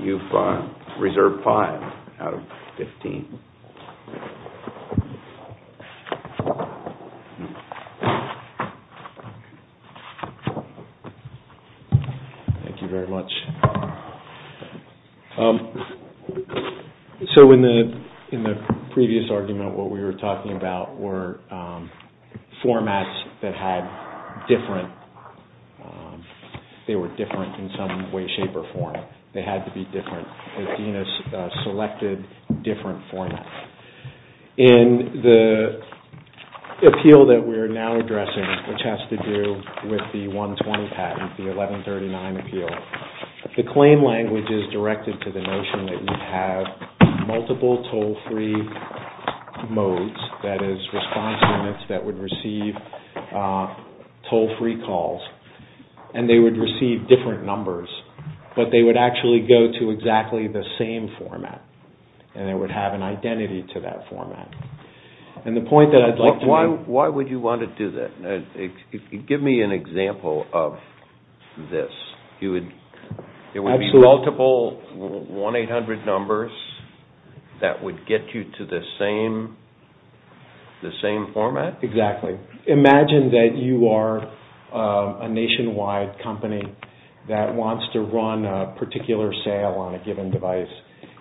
You've reserved five out of fifteen. Thank you very much. So in the previous argument, what we were talking about were formats that had different... they had to be different, because Dina selected different formats. In the appeal that we're now addressing, which has to do with the 120 patent, the 1139 appeal, the claim language is directed to the notion that you have multiple toll-free modes, that is response limits that would receive toll-free calls, and they would receive different numbers, but they would actually go to exactly the same format, and they would have an identity to that format. And the point that I'd like to make... Why would you want to do that? Give me an example of this. There would be multiple 1-800 numbers that would get you to the same format? Exactly. Imagine that you are a nationwide company that wants to run a particular sale on a given device,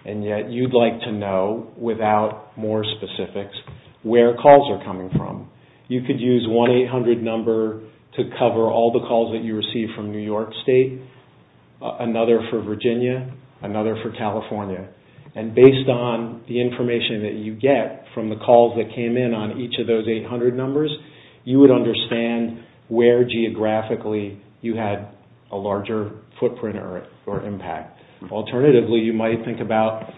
and yet you'd like to know, without more specifics, where calls are coming from. You could use 1-800 number to cover all the calls that you receive from New York State, another for Virginia, another for California, and based on the information that you get from the calls that came in on each of those 800 numbers, you would understand where geographically you had a larger footprint or impact. Alternatively, you might think about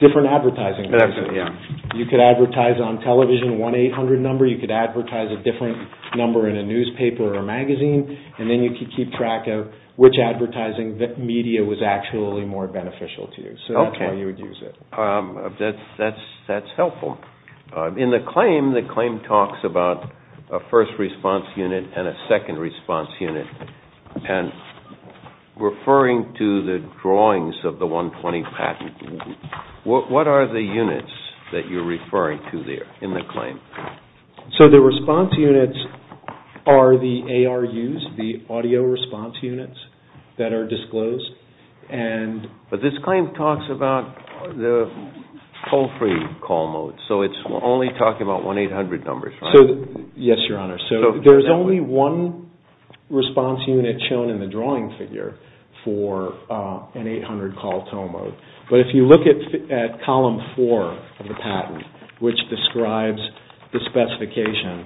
different advertising. You could advertise on television 1-800 number. You could advertise a different number in a newspaper or magazine, and then you could keep track of which advertising media was actually more beneficial to you. That's helpful. In the claim, the claim talks about a first response unit and a second response unit. Referring to the drawings of the 120 patent, what are the units that you're referring to there in the claim? The response units are the ARUs, the audio response units that are disclosed. But this claim talks about the toll-free call mode, so it's only talking about 1-800 numbers, right? Yes, Your Honor. There's only one response unit shown in the drawing figure for an 800-call toll mode. But if you look at Column 4 of the patent, which describes the specification,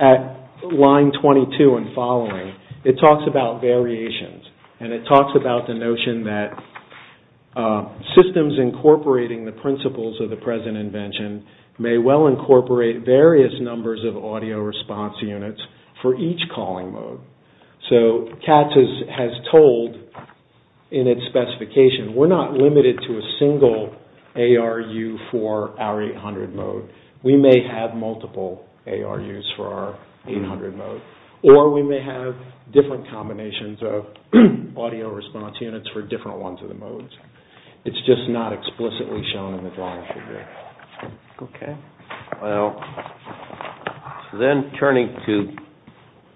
at line 22 and following, it talks about variations, and it talks about the notion that systems incorporating the principles of the present invention may well incorporate various numbers of audio response units for each calling mode. So, CATS has told, in its specification, we're not limited to a single ARU for our 800 mode. We may have multiple ARUs for our 800 mode, or we may have different combinations of audio response units for different ones of the modes. It's just not explicitly shown in the drawing figure. Okay. Well, then turning to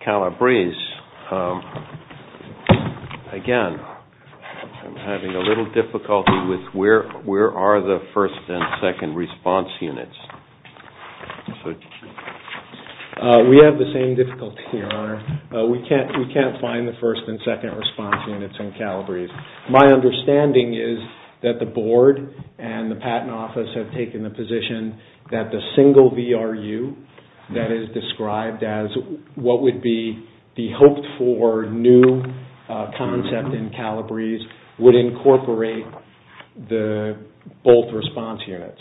Calabrese, again, I'm having a little difficulty with where are the first and second response units. We have the same difficulty, Your Honor. We can't find the first and second response units in Calabrese. My understanding is that the Board and the Patent Office have taken the position that the single VRU that is described as what would be the hoped-for new concept in Calabrese would incorporate both response units.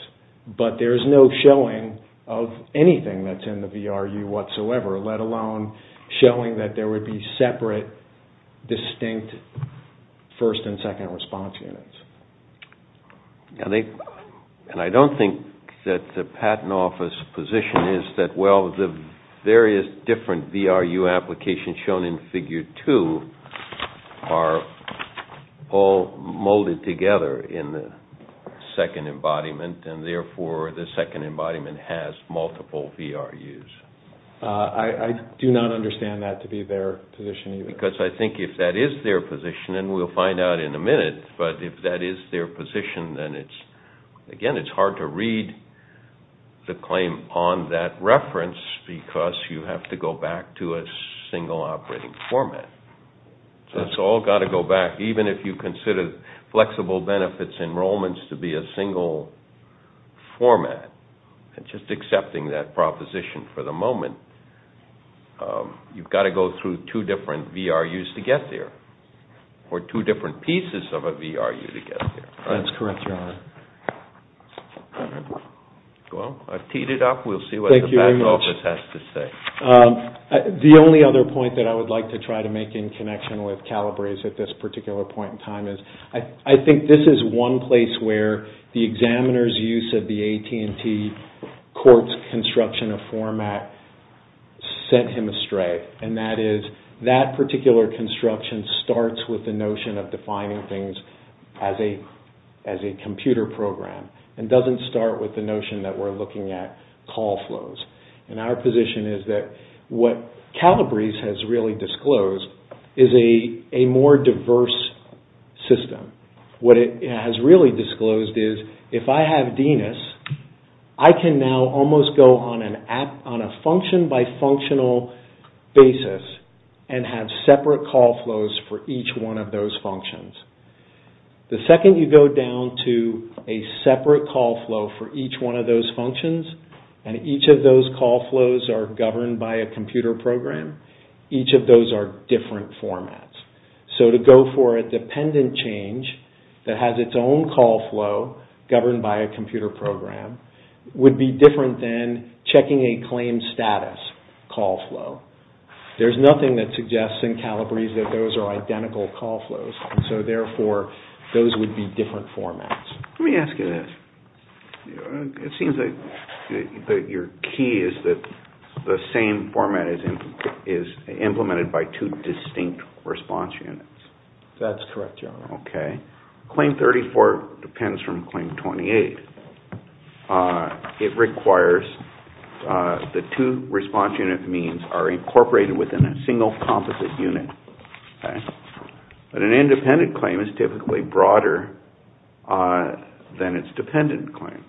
But there's no showing of anything that's in the VRU whatsoever, let alone showing that there would be separate, distinct first and second response units. And I don't think that the Patent Office position is that, well, the various different VRU applications shown in Figure 2 are all molded together in the second embodiment, and therefore the second embodiment has multiple VRUs. I do not understand that to be their position either. Because I think if that is their position, and we'll find out in a minute, but if that is their position, then, again, it's hard to read the claim on that reference because you have to go back to a single operating format. So it's all got to go back, even if you consider flexible benefits enrollments to be a single format. And just accepting that proposition for the moment, you've got to go through two different VRUs to get there, or two different pieces of a VRU to get there. That's correct, Your Honor. Well, I've teed it up. We'll see what the back office has to say. Thank you very much. The only other point that I would like to try to make in connection with Calabrese at this particular point in time is, I think this is one place where the examiner's use of the AT&T courts construction of format sent him astray. And that is, that particular construction starts with the notion of defining things as a computer program and doesn't start with the notion that we're looking at call flows. And our position is that what Calabrese has really disclosed is a more diverse system. What it has really disclosed is, if I have DNAS, I can now almost go on a function-by-functional basis and have separate call flows for each one of those functions. The second you go down to a separate call flow for each one of those functions, and each of those call flows are governed by a computer program, each of those are different formats. So to go for a dependent change that has its own call flow governed by a computer program would be different than checking a claim status call flow. There's nothing that suggests in Calabrese that those are identical call flows. So therefore, those would be different formats. Let me ask you this. It seems that your key is that the same format is implemented by two distinct response units. That's correct, Your Honor. Okay. Claim 34 depends from Claim 28. It requires the two response unit means are incorporated within a single composite unit. But an independent claim is typically broader than its dependent claim.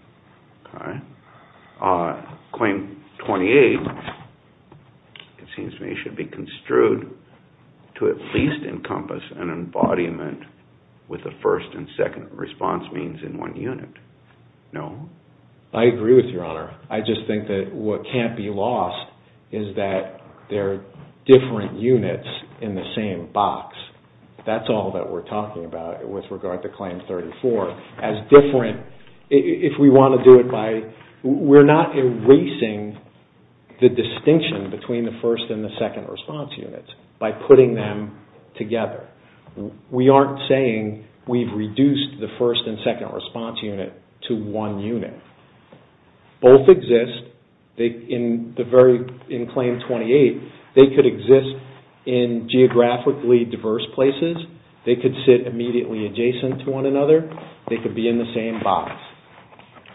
Claim 28, it seems to me, should be construed to at least encompass an embodiment with a first and second response means in one unit. I agree with you, Your Honor. I just think that what can't be lost is that they're different units in the same box. That's all that we're talking about with regard to Claim 34. As different, if we want to do it by... We're not erasing the distinction between the first and the second response units by putting them together. We aren't saying we've reduced the first and second response unit to one unit. Both exist in Claim 28. They could exist in geographically diverse places. They could sit immediately adjacent to one another. They could be in the same box.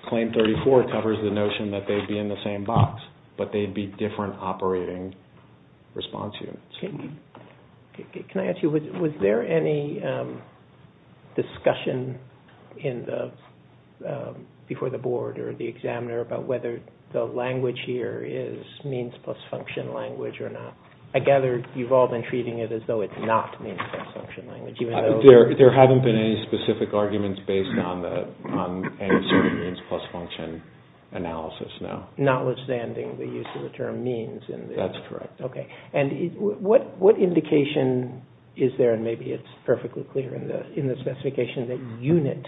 Claim 34 covers the notion that they'd be in the same box, but they'd be different operating response units. Can I ask you, was there any discussion before the Board or the examiner about whether the language here is means plus function language or not? I gather you've all been treating it as though it's not means plus function language. There haven't been any specific arguments based on any sort of means plus function analysis, no. Notwithstanding the use of the term means. That's correct. What indication is there, and maybe it's perfectly clear in the specification, that unit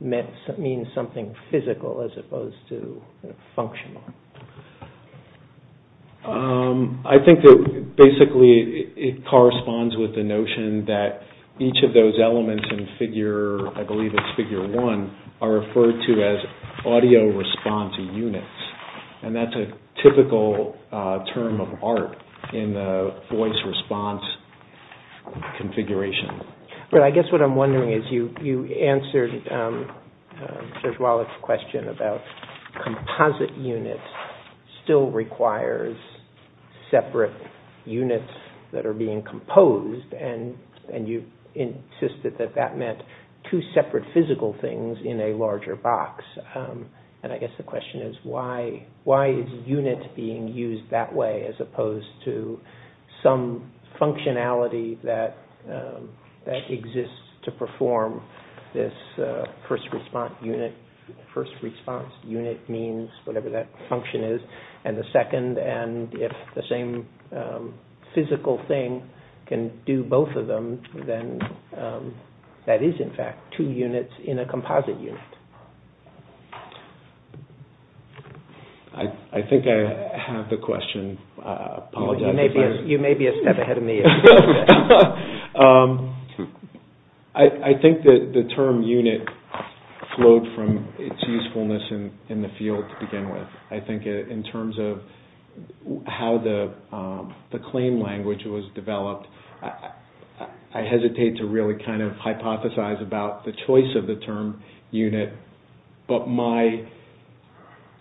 means something physical as opposed to functional? I think that basically it corresponds with the notion that each of those elements in figure, I believe it's figure one, are referred to as audio response units. That's a typical term of art in the voice response configuration. I guess what I'm wondering is you answered Serge Wallach's question about composite units still requires separate units that are being composed, and you insisted that that meant two separate physical things in a larger box. I guess the question is why is unit being used that way as opposed to some functionality that exists to perform this first response unit? First response unit means whatever that function is, and the second, and if the same physical thing can do both of them, then that is in fact two units in a composite unit. I think I have the question. You may be a step ahead of me. I think the term unit flowed from its usefulness in the field to begin with. I think in terms of how the claim language was developed, I hesitate to really kind of hypothesize about the choice of the term unit, but my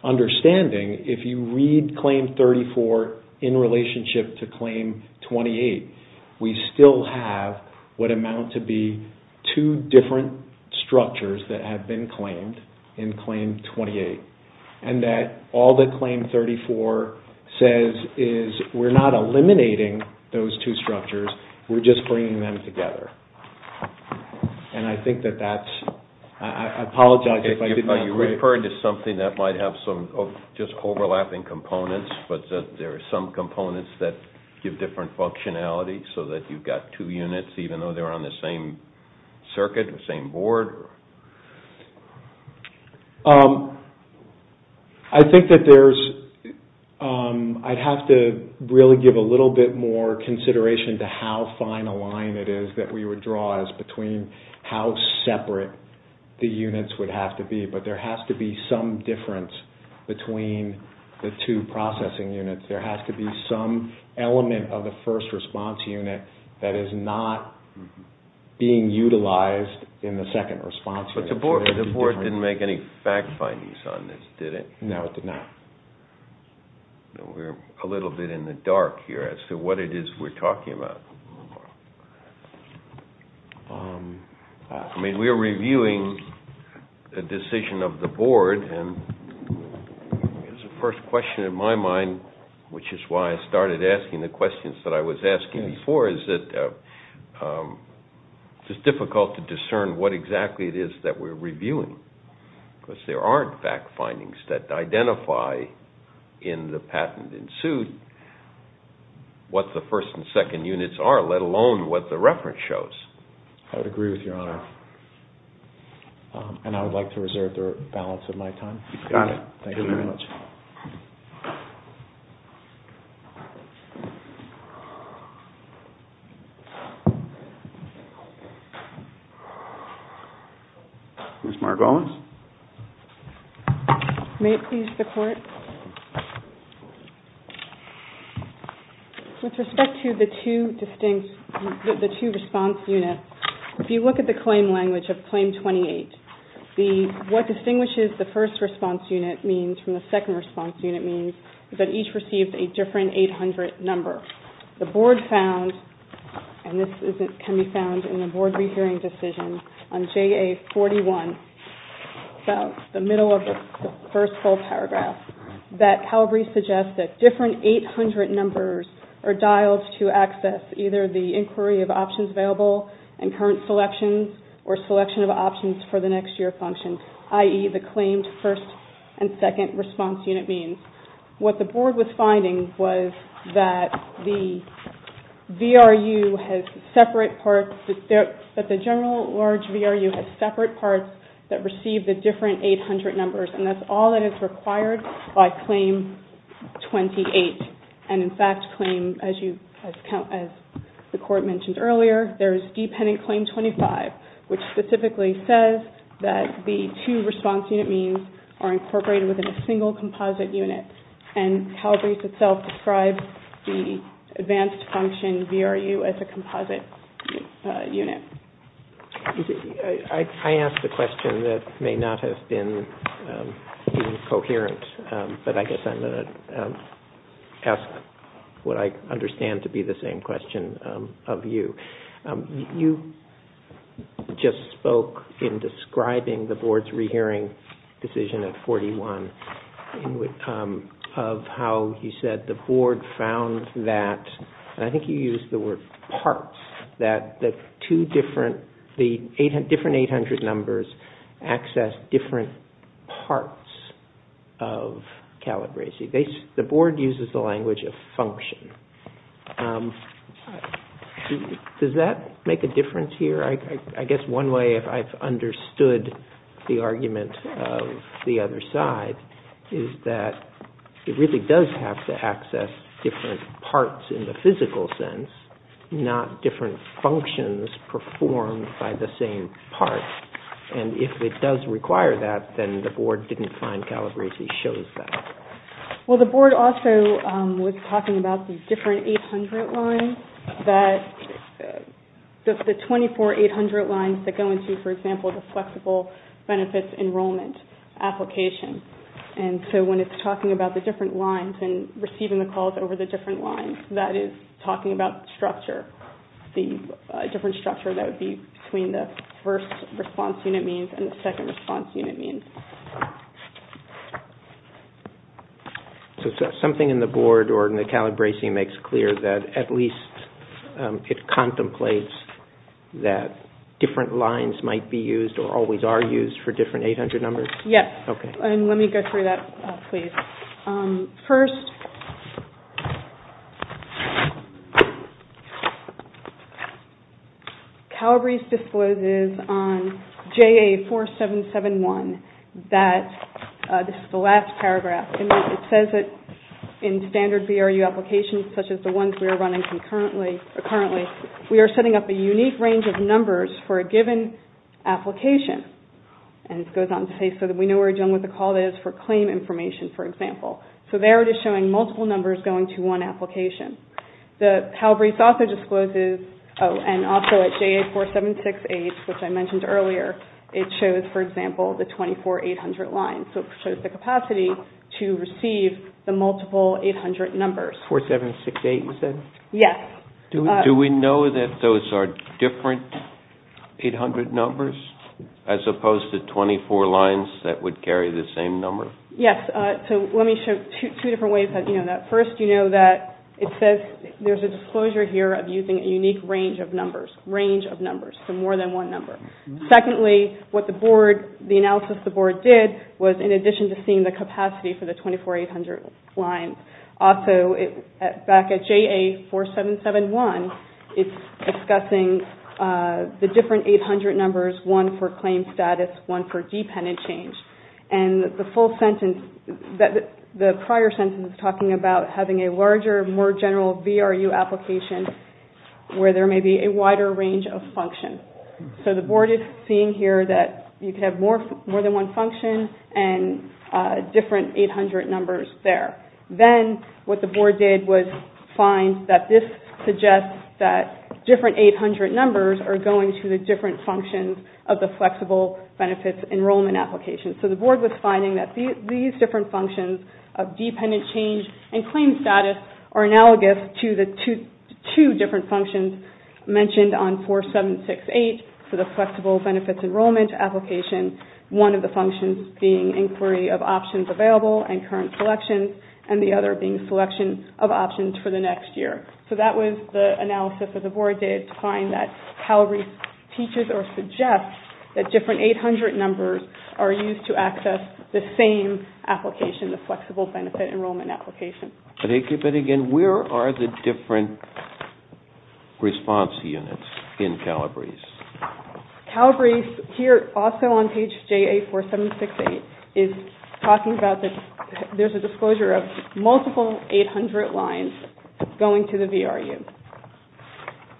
understanding, if you read Claim 34 in relationship to Claim 28, we still have what amount to be two different structures that have been claimed in Claim 28. And that all that Claim 34 says is we're not eliminating those two structures, we're just bringing them together. And I think that that's, I apologize if I did not agree. Are you referring to something that might have some just overlapping components, but there are some components that give different functionality so that you've got two units even though they're on the same circuit, the same board? I think that there's, I'd have to really give a little bit more consideration to how fine a line it is that we would draw as between how separate the units would have to be. But there has to be some difference between the two processing units. There has to be some element of the first response unit that is not being utilized in the second response unit. But the board didn't make any fact findings on this, did it? No, it did not. We're a little bit in the dark here as to what it is we're talking about. I mean, we're reviewing the decision of the board, and the first question in my mind, which is why I started asking the questions that I was asking before, is that it's difficult to discern what exactly it is that we're reviewing. Because there aren't fact findings that identify in the patent in suit what the first and second units are, let alone what the reference shows. I would agree with Your Honor. And I would like to reserve the balance of my time. Got it. Thank you very much. Ms. Margolis? May it please the Court? With respect to the two response units, if you look at the claim language of Claim 28, what distinguishes the first response unit means from the second response unit means is that each received a different 800 number. The board found, and this can be found in the board rehearing decision on JA 41, about the middle of the first full paragraph, that Calabrese suggests that different 800 numbers are dialed to access either the inquiry of options available and current selections or selection of options for the next year function, i.e., the claimed first and second response unit means. What the board was finding was that the general large VRU has separate parts that receive the different 800 numbers, and that's all that is required by Claim 28. And in fact, as the Court mentioned earlier, there's dependent Claim 25, which specifically says that the two response unit means are incorporated within a single composite unit. And Calabrese itself describes the advanced function VRU as a composite unit. I asked a question that may not have been coherent, but I guess I'm going to ask what I understand to be the same question of you. You just spoke in describing the board's rehearing decision at 41 of how you said the board found that, and I think you used the word parts, that the different 800 numbers access different parts of Calabrese. The board uses the language of function. Does that make a difference here? I guess one way I've understood the argument of the other side is that it really does have to access different parts in the physical sense, not different functions performed by the same part. And if it does require that, then the board didn't find Calabrese shows that. Well, the board also was talking about the different 800 lines, the 24 800 lines that go into, for example, the flexible benefits enrollment application. And so when it's talking about the different lines and receiving the calls over the different lines, that is talking about structure, the different structure that would be between the first response unit means and the second response unit means. So something in the board or in the Calabrese makes clear that at least it contemplates that different lines might be used or always are used for different 800 numbers? Yes. Okay. Let me go through that, please. First, Calabrese discloses on JA 4771 that, this is the last paragraph, it says that in standard VRU applications such as the ones we are running currently, we are setting up a unique range of numbers for a given application. And it goes on to say so that we know we are dealing with a call that is for claim information, for example. So there it is showing multiple numbers going to one application. Calabrese also discloses, and also at JA 4768, which I mentioned earlier, it shows, for example, the 24 800 lines. So it shows the capacity to receive the multiple 800 numbers. 4768, you said? Yes. Do we know that those are different 800 numbers? As opposed to 24 lines that would carry the same number? Yes. So let me show two different ways that you know that. First, you know that it says there is a disclosure here of using a unique range of numbers, range of numbers, so more than one number. Secondly, what the board, the analysis the board did was, in addition to seeing the capacity for the 24 800 lines, also back at JA 4771, it is discussing the different 800 numbers, one for claim status, one for dependent change. And the full sentence, the prior sentence is talking about having a larger, more general VRU application where there may be a wider range of functions. So the board is seeing here that you can have more than one function and different 800 numbers there. Then what the board did was find that this suggests that different 800 numbers are going to the different functions of the Flexible Benefits Enrollment application. So the board was finding that these different functions of dependent change and claim status are analogous to the two different functions mentioned on 4768 for the Flexible Benefits Enrollment application, one of the functions being inquiry of options available and current selection and the other being selection of options for the next year. So that was the analysis that the board did to find that Calabrese teaches or suggests that different 800 numbers are used to access the same application, the Flexible Benefits Enrollment application. Calabrese, here also on page J84768, is talking about that there's a disclosure of multiple 800 lines going to the VRU.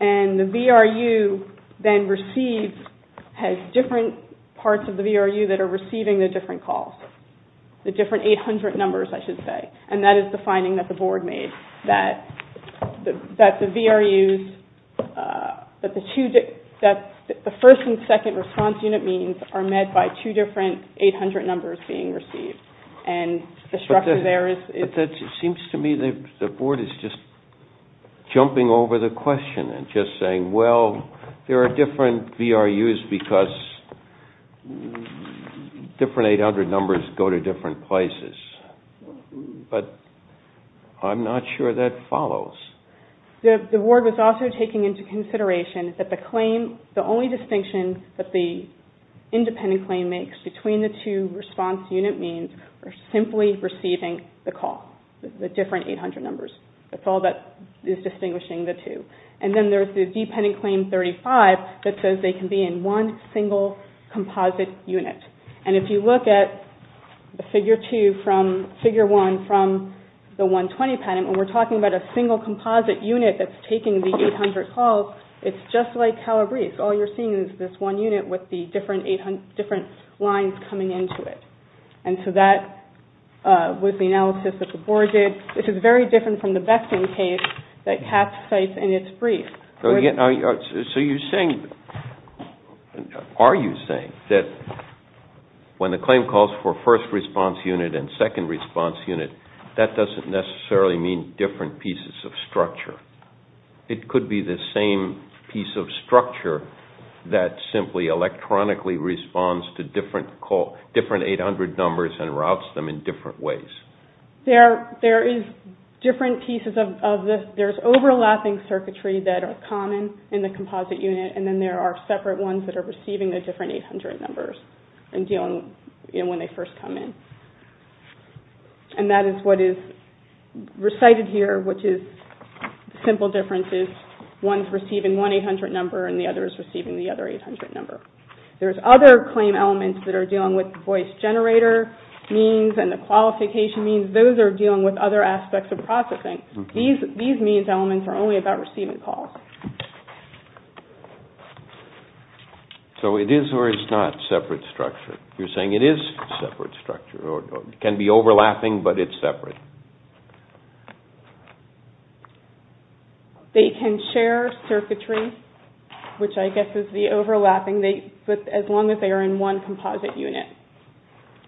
And the VRU then receives, has different parts of the VRU that are receiving the different calls, the different 800 numbers I should say. And that is the finding that the board made, that the VRUs, that the first and second response unit meetings are met by two different 800 numbers being received. And the structure there is... But it seems to me that the board is just jumping over the question and just saying, well, there are different VRUs because different 800 numbers go to different places. But I'm not sure that follows. The board was also taking into consideration that the claim, the only distinction that the independent claim makes between the two response unit meetings are simply receiving the call, the different 800 numbers. That's all that is distinguishing the two. And then there's the dependent claim 35 that says they can be in one single composite unit. And if you look at the figure 2 from, figure 1 from the 120 patent, when we're talking about a single composite unit that's taking the 800 calls, it's just like Calabrese. All you're seeing is this one unit with the different 800, different lines coming into it. And so that was the analysis that the board did. This is very different from the Beckton case that Katz cites in its brief. So you're saying, are you saying, that when the claim calls for first response unit and second response unit, that doesn't necessarily mean different pieces of structure. It could be the same piece of structure that simply electronically responds to different 800 numbers and routes them in different ways. There is different pieces of this. There's overlapping circuitry that are common in the composite unit, and then there are separate ones that are receiving the different 800 numbers when they first come in. And that is what is recited here, which is the simple difference is one is receiving one 800 number and the other is receiving the other 800 number. There's other claim elements that are dealing with voice generator means and the qualification means. Those are dealing with other aspects of processing. These means elements are only about receiving calls. So it is or is not separate structure. You're saying it is separate structure. It can be overlapping, but it's separate. They can share circuitry, which I guess is the overlapping, as long as they are in one composite unit.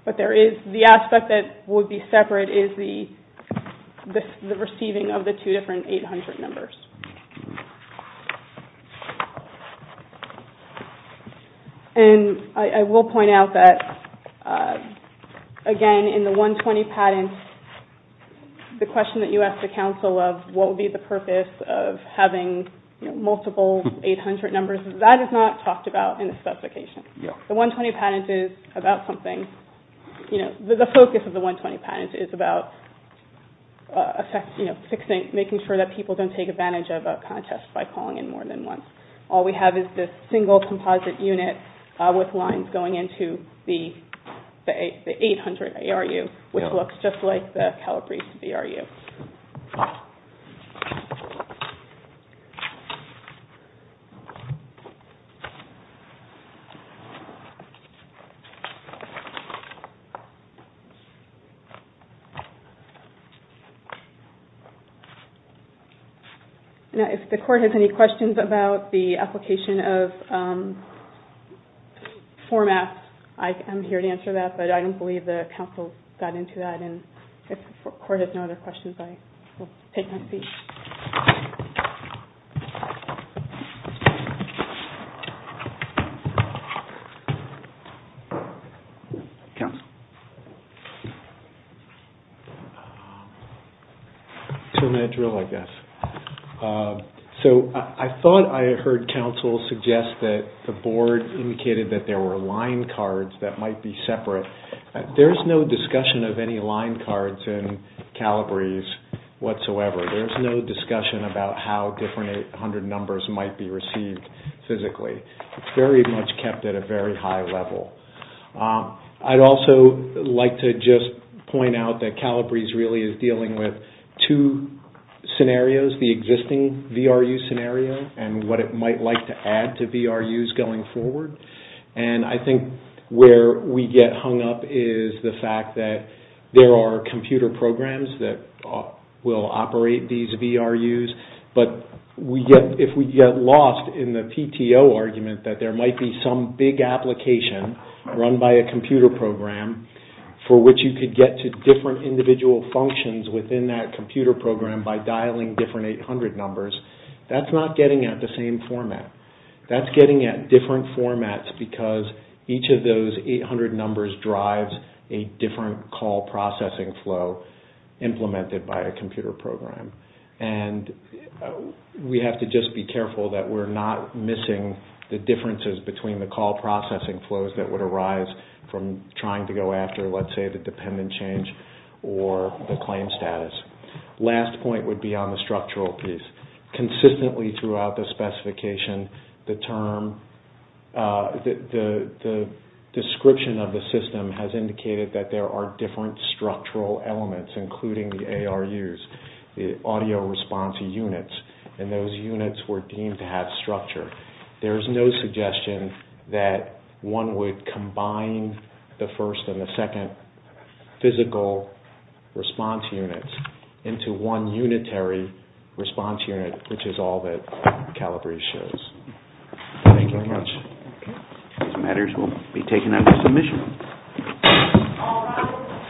But there is the aspect that would be separate is the receiving of the two different 800 numbers. And I will point out that, again, in the 120 patent, the question that you asked the Council of what would be the purpose of having multiple 800 numbers, that is not talked about in the specification. The 120 patent is about something. The focus of the 120 patent is about making sure that people don't take advantage of a contest by calling in more than once. All we have is this single composite unit with lines going into the 800 ARU, which looks just like the Calabrese VRU. If the Court has any questions about the application of formats, I am here to answer that, but I don't believe the Council got into that. And if the Court has no other questions, I will take my seat. So I thought I heard Council suggest that the Board indicated that there were line cards that might be separate. There is no discussion of any line cards in Calabrese whatsoever. There is no discussion about how different 800 numbers might be received physically. It is very much kept at a very high level. I would also like to just point out that Calabrese really is dealing with two scenarios, the existing VRU scenario and what it might like to add to VRUs going forward. And I think where we get hung up is the fact that there are computer programs that will operate these VRUs, but if we get lost in the PTO argument that there might be some big application run by a computer program for which you could get to different individual functions within that computer program by dialing different 800 numbers, that is not getting at the same format. That is getting at different formats because each of those 800 numbers drives a different call processing flow implemented by a computer program. And we have to just be careful that we are not missing the differences between the call processing flows that would arise from trying to go after, let's say, the dependent change or the claim status. The last point would be on the structural piece. Consistently throughout the specification, the description of the system has indicated that there are different structural elements, including the ARUs, the audio response units, and those units were deemed to have structure. There is no suggestion that one would combine the first and the second physical response units into one unitary response unit, which is all that Calabrese shows. Thank you very much. These matters will be taken under submission.